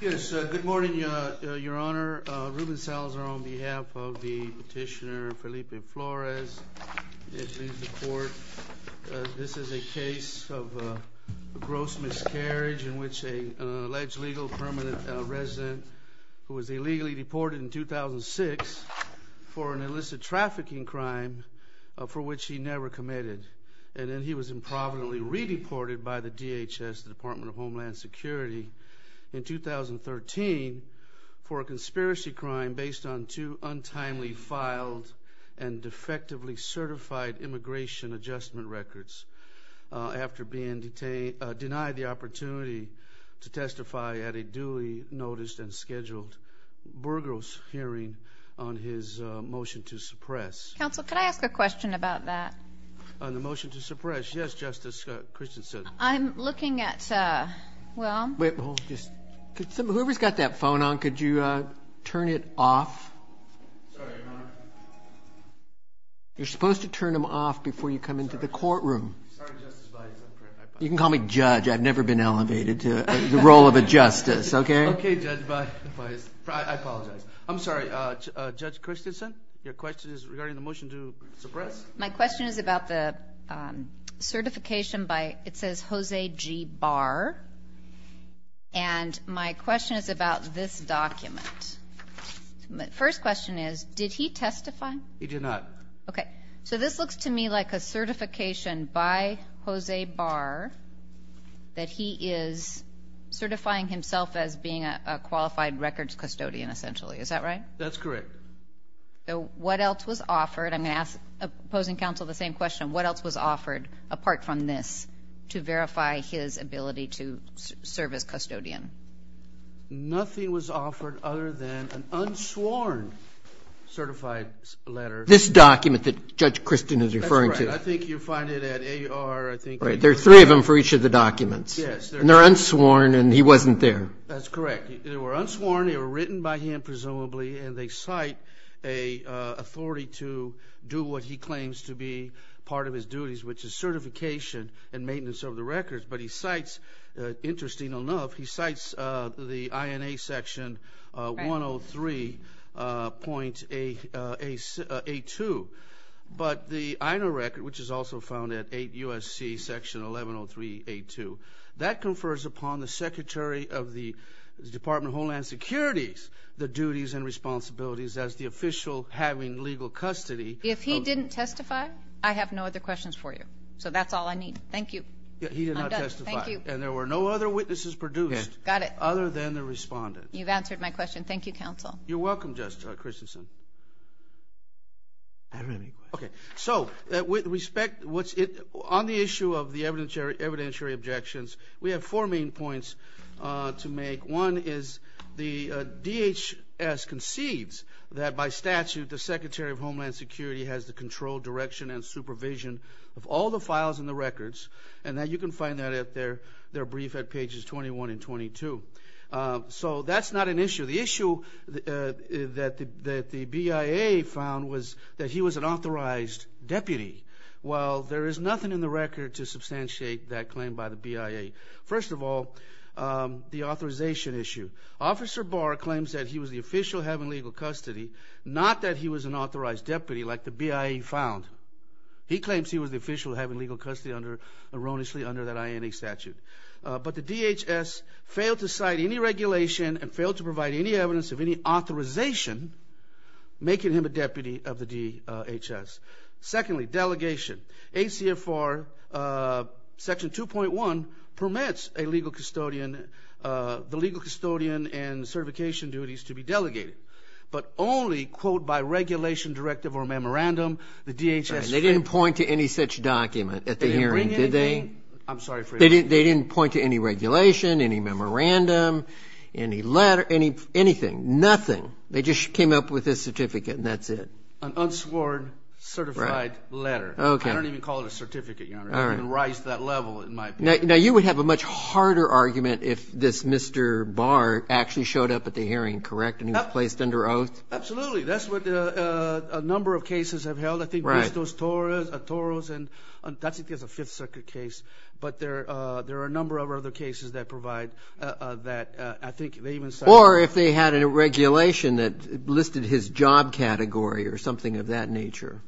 Yes, good morning, Your Honor. Ruben Salazar on behalf of the petitioner Felipe Flores. This is a case of gross miscarriage in which an alleged legal permanent resident who was illegally deported in 2006 for an illicit trafficking crime for which he never committed. And then he was improvidently re-deported by the DHS, the Department of Homeland Security, in 2013 for a conspiracy crime based on two untimely filed and defectively certified immigration adjustment records after being denied the opportunity to testify at a duly noticed and scheduled burgos hearing on his motion to suppress. Counsel, could I ask a question about that? On the motion to suppress, yes, Justice Christensen. I'm looking at – well – Whoever's got that phone on, could you turn it off? Sorry, Your Honor. You're supposed to turn them off before you come into the courtroom. Sorry, Justice Bias. You can call me Judge. I've never been elevated to the role of a justice, okay? Okay, Judge Bias. I'm sorry, Judge Christensen, your question is regarding the motion to suppress? My question is about the certification by – it says Jose G. Barr. And my question is about this document. My first question is, did he testify? He did not. Okay. So this looks to me like a certification by Jose Barr that he is certifying himself as being a qualified records custodian, essentially. Is that right? That's correct. So what else was offered? I'm going to ask opposing counsel the same question. What else was offered apart from this to verify his ability to serve as custodian? Nothing was offered other than an unsworn certified letter. This document that Judge Christensen is referring to. That's right. I think you'll find it at A.R. There are three of them for each of the documents. Yes. And they're unsworn and he wasn't there. That's correct. They were unsworn. They were written by him, presumably. And they cite authority to do what he claims to be part of his duties, which is certification and maintenance of the records. But he cites, interesting enough, he cites the INA Section 103.82. But the INA record, which is also found at USC Section 1103.82, that confers upon the Secretary of the Department of Homeland Security's duties and responsibilities as the official having legal custody. If he didn't testify, I have no other questions for you. So that's all I need. Thank you. He did not testify. I'm done. Thank you. And there were no other witnesses produced other than the respondent. You've answered my question. Thank you, counsel. You're welcome, Judge Christensen. I have a question. Okay. So with respect, on the issue of the evidentiary objections, we have four main points to make. One is the DHS concedes that, by statute, the Secretary of Homeland Security has the control, direction, and supervision of all the files in the records, and that you can find that at their brief at pages 21 and 22. So that's not an issue. The issue that the BIA found was that he was an authorized deputy. Well, there is nothing in the record to substantiate that claim by the BIA. First of all, the authorization issue. Officer Barr claims that he was the official having legal custody, not that he was an authorized deputy like the BIA found. He claims he was the official having legal custody under, erroneously, under that INA statute. But the DHS failed to cite any regulation and failed to provide any evidence of any authorization, making him a deputy of the DHS. Secondly, delegation. ACFR Section 2.1 permits a legal custodian, the legal custodian and certification duties to be delegated, but only, quote, by regulation, directive, or memorandum. They didn't point to any such document at the hearing, did they? They didn't point to any regulation, any memorandum, any letter, anything. Nothing. They just came up with this certificate and that's it. An unsworn, certified letter. I don't even call it a certificate, Your Honor. It didn't rise to that level in my opinion. Now, you would have a much harder argument if this Mr. Barr actually showed up at the hearing, correct, and he was placed under oath? Absolutely. That's what a number of cases have held. I think there's those Toros and that's a Fifth Circuit case, but there are a number of other cases that provide that. Or if they had a regulation that listed his job category or something of that nature.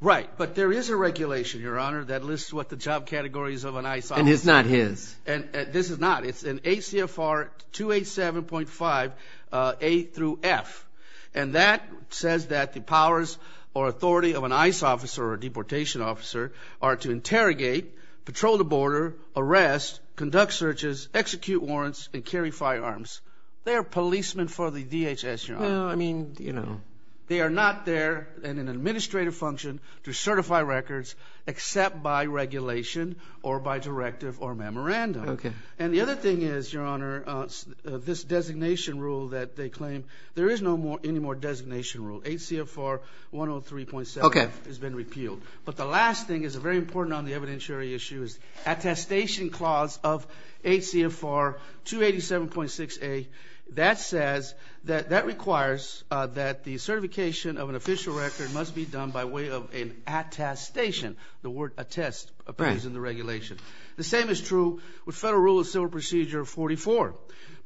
Right, but there is a regulation, Your Honor, that lists what the job category is of an ICE officer. And it's not his. This is not. It's an ACFR 287.5A through F, and that says that the powers or authority of an ICE officer or a deportation officer are to interrogate, patrol the border, arrest, conduct searches, execute warrants, and carry firearms. They are policemen for the DHS, Your Honor. Well, I mean, you know. They are not there in an administrative function to certify records except by regulation or by directive or memorandum. Okay. And the other thing is, Your Honor, this designation rule that they claim, there is no more designation rule. ACFR 103.7 has been repealed. But the last thing is very important on the evidentiary issue is attestation clause of ACFR 287.6A. That says that that requires that the certification of an official record must be done by way of an attestation. The word attest appears in the regulation. The same is true with Federal Rule of Civil Procedure 44.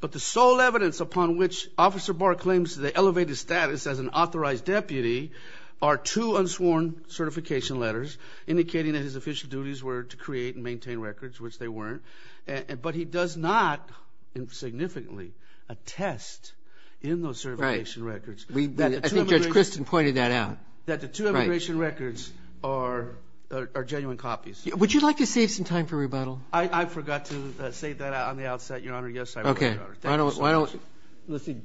But the sole evidence upon which Officer Barr claims the elevated status as an authorized deputy are two unsworn certification letters indicating that his official duties were to create and maintain records, which they weren't. But he does not significantly attest in those certification records. Right. I think Judge Kristen pointed that out. That the two immigration records are genuine copies. Would you like to save some time for rebuttal? I forgot to say that on the outset, Your Honor. Yes, I will, Your Honor. Okay. Thank you so much.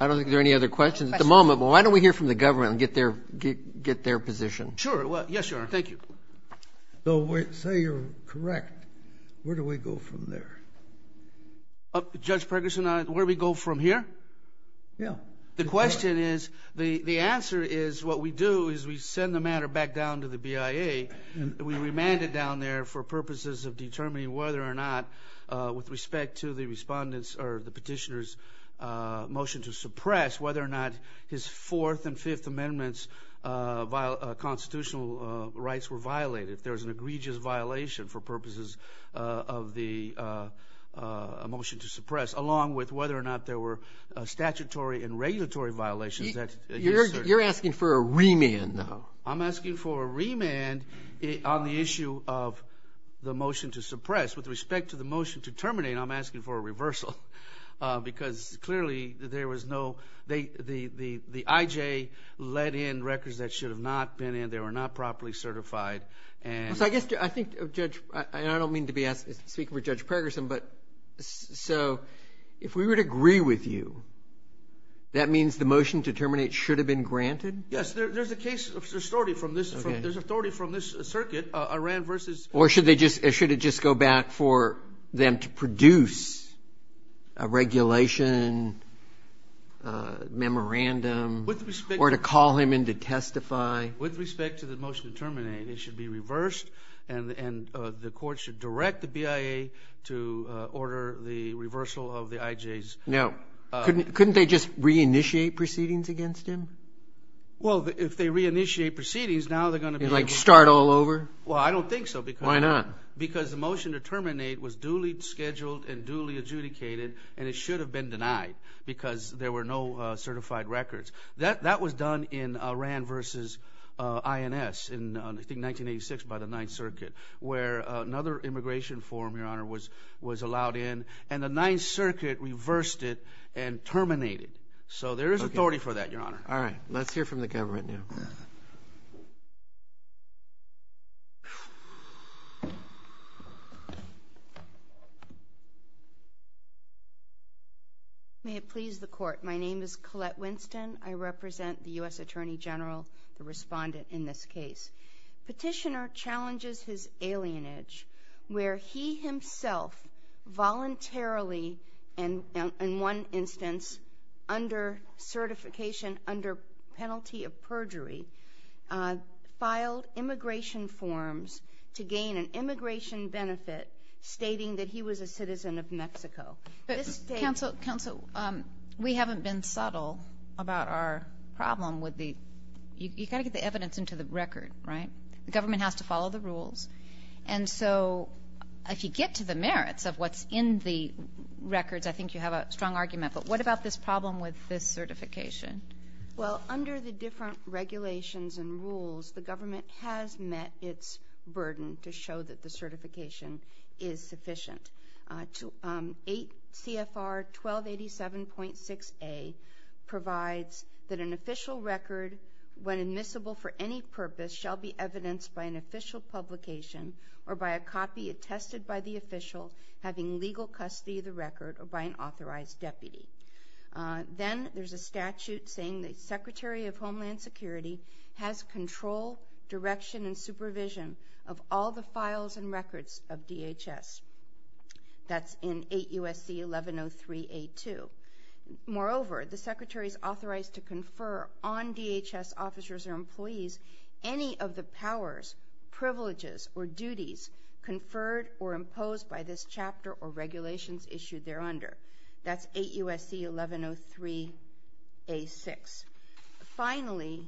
I don't think there are any other questions at the moment. But why don't we hear from the government and get their position? Sure. Yes, Your Honor. Thank you. Say you're correct. Where do we go from there? Judge Perguson, where do we go from here? Yeah. The question is, the answer is what we do is we send the matter back down to the BIA. We remand it down there for purposes of determining whether or not, with respect to the petitioner's motion to suppress, whether or not his Fourth and Fifth Amendments constitutional rights were violated. There was an egregious violation for purposes of the motion to suppress, along with whether or not there were statutory and regulatory violations. You're asking for a remand, though. I'm asking for a remand on the issue of the motion to suppress. With respect to the motion to terminate, I'm asking for a reversal because, clearly, there was no the IJ let in records that should have not been in. They were not properly certified. I don't mean to be speaking for Judge Perguson, but if we would agree with you, that means the motion to terminate should have been granted? Yes. There's authority from this circuit, Iran versus. Or should it just go back for them to produce a regulation, a memorandum, or to call him in to testify? With respect to the motion to terminate, it should be reversed, and the court should direct the BIA to order the reversal of the IJ's. Now, couldn't they just reinitiate proceedings against him? Well, if they reinitiate proceedings, now they're going to be able to. Like start all over? Well, I don't think so. Why not? Because the motion to terminate was duly scheduled and duly adjudicated, and it should have been denied because there were no certified records. That was done in Iran versus INS in, I think, 1986 by the Ninth Circuit, where another immigration form, Your Honor, was allowed in, and the Ninth Circuit reversed it and terminated it. So there is authority for that, Your Honor. All right. Let's hear from the government now. May it please the Court. My name is Collette Winston. I represent the U.S. Attorney General, the respondent in this case. Petitioner challenges his alienage, where he himself voluntarily, in one instance under certification under penalty of perjury, filed immigration forms to gain an immigration benefit, stating that he was a citizen of Mexico. Counsel, we haven't been subtle about our problem. You've got to get the evidence into the record, right? The government has to follow the rules, and so if you get to the merits of what's in the records, I think you have a strong argument. But what about this problem with this certification? Well, under the different regulations and rules, the government has met its burden to show that the certification is sufficient. CFR 1287.6A provides that an official record, when admissible for any purpose, shall be evidenced by an official publication or by a copy attested by the official having legal custody of the record or by an authorized deputy. Then there's a statute saying the Secretary of Homeland Security has control, direction, and supervision of all the files and records of DHS. That's in 8 U.S.C. 1103A2. Moreover, the Secretary is authorized to confer on DHS officers or employees any of the powers, privileges, or duties conferred or imposed by this chapter or regulations issued thereunder. That's 8 U.S.C. 1103A6. Finally,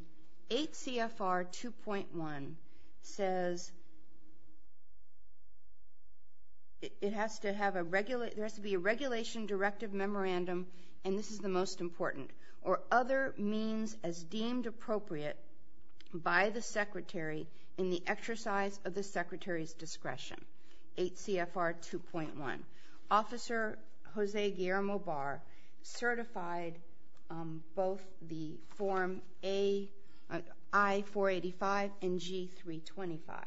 8 CFR 2.1 says there has to be a regulation directive memorandum, and this is the most important, or other means as deemed appropriate by the Secretary in the exercise of the Secretary's discretion. 8 CFR 2.1. Officer Jose Guillermo Barr certified both the form I-485 and G-325,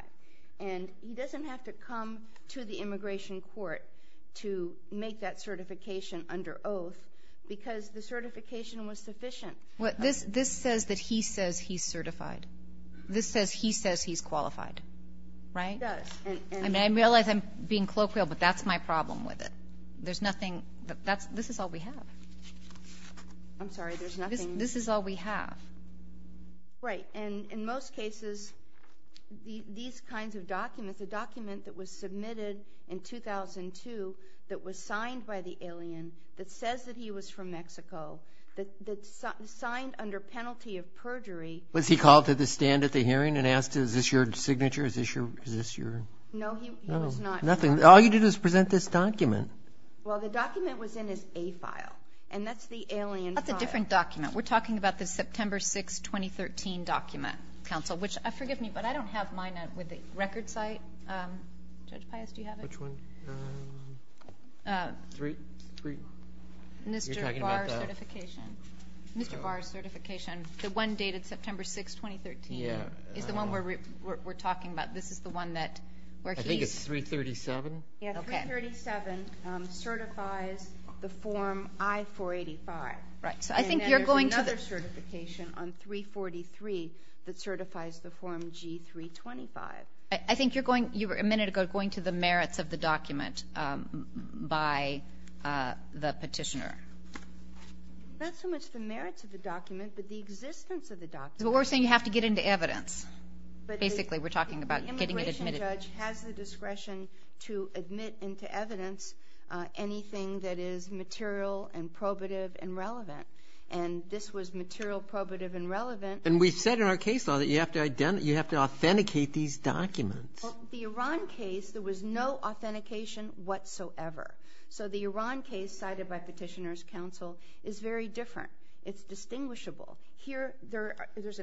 and he doesn't have to come to the immigration court to make that certification under oath because the certification was sufficient. This says that he says he's certified. This says he says he's qualified, right? He does. I realize I'm being colloquial, but that's my problem with it. There's nothing. This is all we have. I'm sorry. There's nothing. This is all we have. Right, and in most cases, these kinds of documents, a document that was submitted in 2002 that was signed by the alien that says that he was from Mexico, that's signed under penalty of perjury. Was he called to the stand at the hearing and asked, is this your signature, is this your? No, he was not. Nothing. All you did was present this document. Well, the document was in his A file, and that's the alien file. That's a different document. We're talking about the September 6, 2013 document, counsel, which forgive me, but I don't have mine with the record site. Judge Payas, do you have it? Which one? Three. Mr. Barr's certification. Mr. Barr's certification, the one dated September 6, 2013, is the one we're talking about. This is the one that where he's. I think it's 337. Yeah, 337 certifies the form I-485. Right, so I think you're going to. And there's another certification on 343 that certifies the form G-325. I think you were a minute ago going to the merits of the document by the petitioner. Not so much the merits of the document, but the existence of the document. But we're saying you have to get into evidence. Basically, we're talking about getting it admitted. The immigration judge has the discretion to admit into evidence anything that is material and probative and relevant. And this was material, probative, and relevant. And we've said in our case law that you have to authenticate these documents. Well, the Iran case, there was no authentication whatsoever. So the Iran case cited by Petitioner's Counsel is very different. It's distinguishable. Here, there is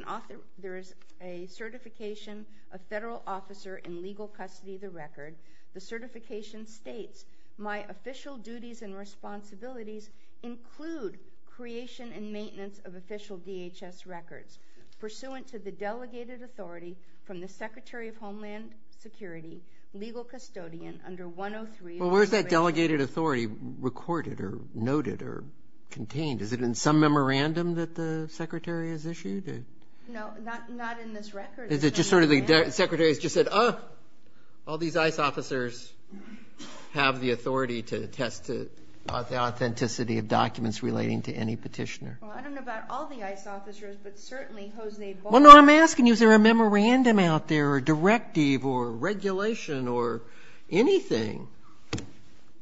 a certification, a federal officer in legal custody of the record. The certification states, my official duties and responsibilities include creation and maintenance of official DHS records. Pursuant to the delegated authority from the Secretary of Homeland Security, legal custodian under 103. Well, where is that delegated authority recorded or noted or contained? Is it in some memorandum that the Secretary has issued? No, not in this record. Is it just sort of the Secretary has just said, oh, all these ICE officers have the authority to attest to the authenticity of documents relating to any petitioner? Well, I don't know about all the ICE officers, but certainly Hosnade Barber. Well, no, I'm asking you, is there a memorandum out there or a directive or regulation or anything?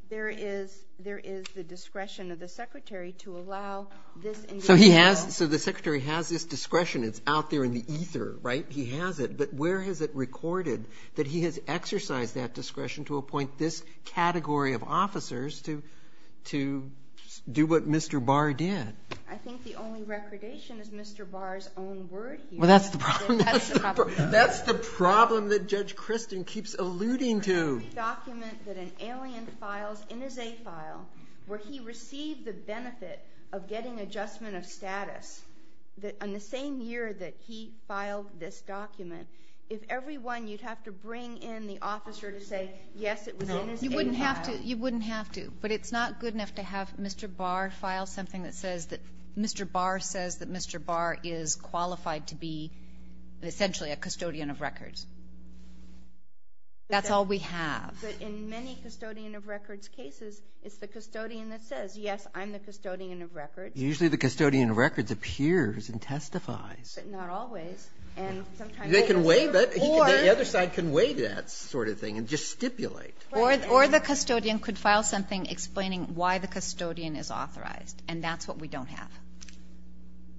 There is the discretion of the Secretary to allow this individual. So the Secretary has this discretion. It's out there in the ether, right? He has it. But where is it recorded that he has exercised that discretion to appoint this category of officers to do what Mr. Barr did? I think the only recordation is Mr. Barr's own word here. Well, that's the problem. That's the problem that Judge Kristen keeps alluding to. Every document that an alien files in his A file where he received the benefit of getting adjustment of status, on the same year that he filed this document, if every one you'd have to bring in the officer to say, yes, it was in his A file. No, you wouldn't have to. But it's not good enough to have Mr. Barr file something that says that Mr. Barr says that Mr. Barr is qualified to be essentially a custodian of records. That's all we have. But in many custodian of records cases, it's the custodian that says, yes, I'm the custodian of records. Usually the custodian of records appears and testifies. But not always. They can waive it. The other side can waive that sort of thing and just stipulate. Or the custodian could file something explaining why the custodian is authorized. And that's what we don't have.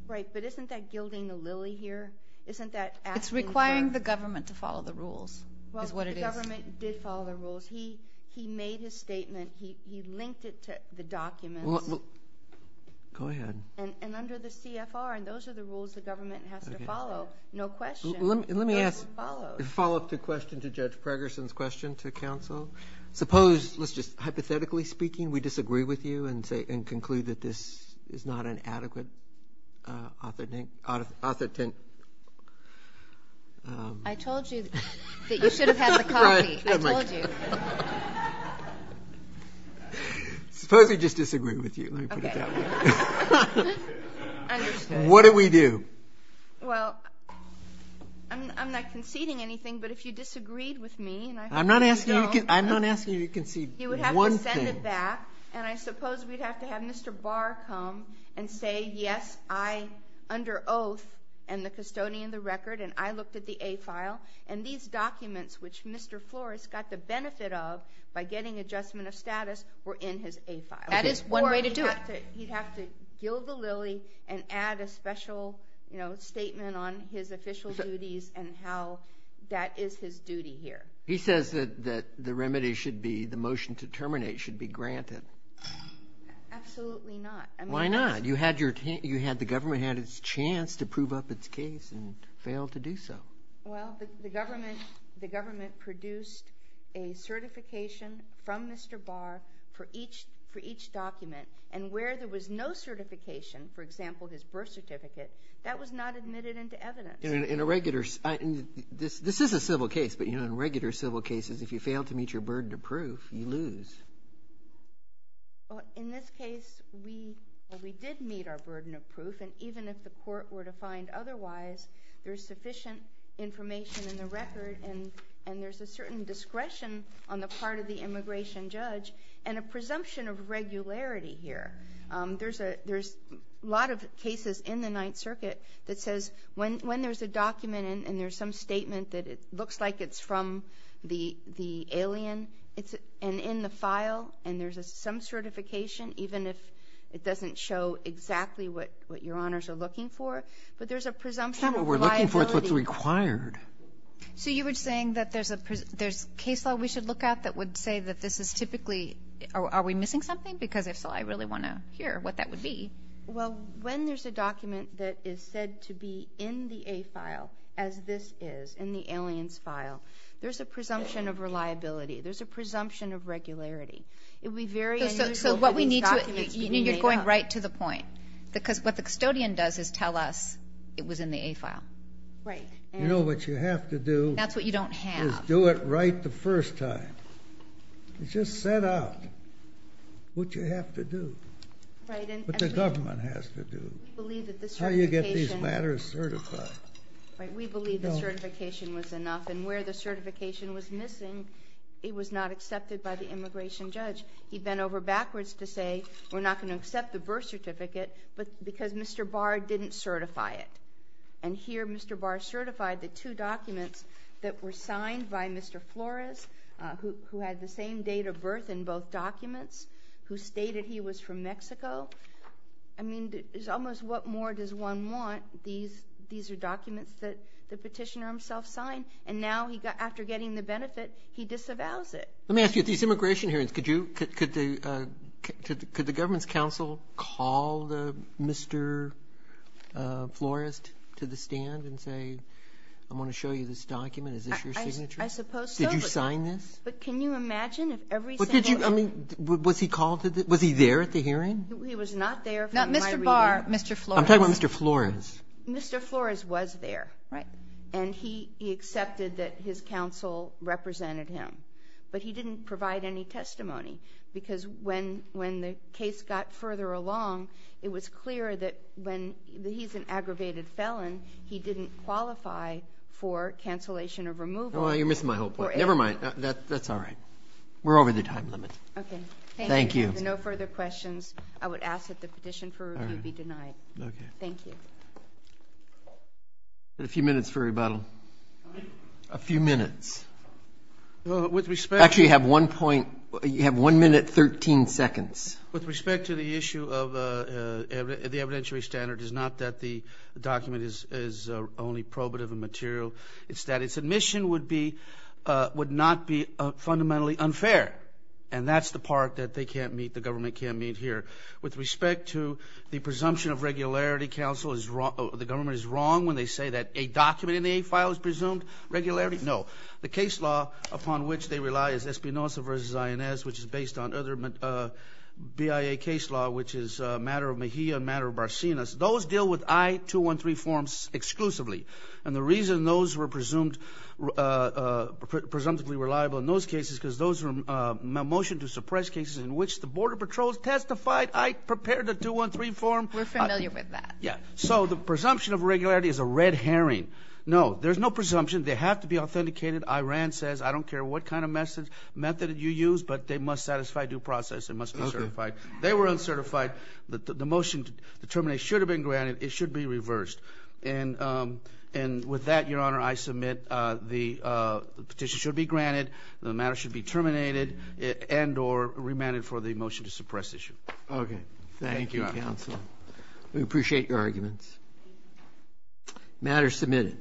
Right. But isn't that gilding the lily here? Isn't that asking for? It's requiring the government to follow the rules is what it is. Well, the government did follow the rules. He made his statement. He linked it to the documents. Go ahead. And under the CFR, and those are the rules the government has to follow. No question. Let me ask a follow-up question to Judge Pregerson's question to counsel. Suppose, let's just hypothetically speaking, we disagree with you and conclude that this is not an adequate authoritative. I told you that you should have had the coffee. I told you. Suppose we just disagree with you. Okay. Understood. What do we do? Well, I'm not conceding anything, but if you disagreed with me, and I hope you don't. I'm not asking you to concede one thing. You would have to send it back, and I suppose we'd have to have Mr. Barr come and say, yes, I, under oath, am the custodian of the record, and I looked at the A file. And these documents, which Mr. Flores got the benefit of by getting adjustment of status, were in his A file. That is one way to do it. He'd have to gill the lily and add a special statement on his official duties and how that is his duty here. He says that the remedy should be, the motion to terminate should be granted. Absolutely not. Why not? You had the government had its chance to prove up its case and failed to do so. Well, the government produced a certification from Mr. Barr for each document. And where there was no certification, for example, his birth certificate, that was not admitted into evidence. In a regular, this is a civil case, but in regular civil cases, if you fail to meet your burden of proof, you lose. In this case, we did meet our burden of proof. And even if the court were to find otherwise, there's sufficient information in the record, and there's a certain discretion on the part of the immigration judge and a presumption of regularity here. There's a lot of cases in the Ninth Circuit that says when there's a document and there's some statement that it looks like it's from the alien, and in the file, and there's some certification, even if it doesn't show exactly what your honors are looking for, but there's a presumption of reliability. It's not what we're looking for, it's what's required. So you were saying that there's case law we should look at that would say that this is typically, are we missing something? Because if so, I really want to hear what that would be. Well, when there's a document that is said to be in the A file as this is, in the alien's file, there's a presumption of reliability. There's a presumption of regularity. It would be very unusual for these documents to be made up. So what we need to do, and you're going right to the point, because what the custodian does is tell us it was in the A file. Right. You know what you have to do? That's what you don't have. Is do it right the first time. Just set out what you have to do, what the government has to do, how you get these matters certified. We believe the certification was enough, and where the certification was missing, it was not accepted by the immigration judge. He bent over backwards to say we're not going to accept the birth certificate because Mr. Barr didn't certify it. And here Mr. Barr certified the two documents that were signed by Mr. Flores, who had the same date of birth in both documents, who stated he was from Mexico. I mean, there's almost what more does one want? These are documents that the petitioner himself signed, and now after getting the benefit, he disavows it. Let me ask you, at these immigration hearings, could the government's counsel call Mr. Flores to the stand and say, I want to show you this document, is this your signature? I suppose so. Did you sign this? But can you imagine if every single one of them. Was he there at the hearing? He was not there for my reading. Not Mr. Barr, Mr. Flores. I'm talking about Mr. Flores. Mr. Flores was there, and he accepted that his counsel represented him. But he didn't provide any testimony because when the case got further along, it was clear that when he's an aggravated felon, he didn't qualify for cancellation of removal. You're missing my whole point. Never mind. That's all right. We're over the time limit. Okay. Thank you. If there are no further questions, I would ask that the petition for review be denied. Thank you. A few minutes for rebuttal. A few minutes. Actually, you have one minute, 13 seconds. With respect to the issue of the evidentiary standard, it's not that the document is only probative and material. It's that its admission would not be fundamentally unfair, and that's the part that they can't meet, the government can't meet here. With respect to the presumption of regularity, the government is wrong when they say that a document in the A file is presumed regularity. No. The case law upon which they rely is Espinoza v. Zayanez, which is based on other BIA case law, which is a matter of Mejia, a matter of Barsinas. Those deal with I-213 forms exclusively, and the reason those were presumptively reliable in those cases is because those were a motion to suppress cases in which the Border Patrol testified, I prepared the 213 form. We're familiar with that. Yeah. So the presumption of regularity is a red herring. No, there's no presumption. They have to be authenticated. Iran says, I don't care what kind of method you use, but they must satisfy due process. They must be certified. They were uncertified. The motion to terminate should have been granted. It should be reversed. And with that, Your Honor, I submit the petition should be granted. The matter should be terminated and or remanded for the motion to suppress issue. Okay. Thank you, counsel. We appreciate your arguments. Matter submitted.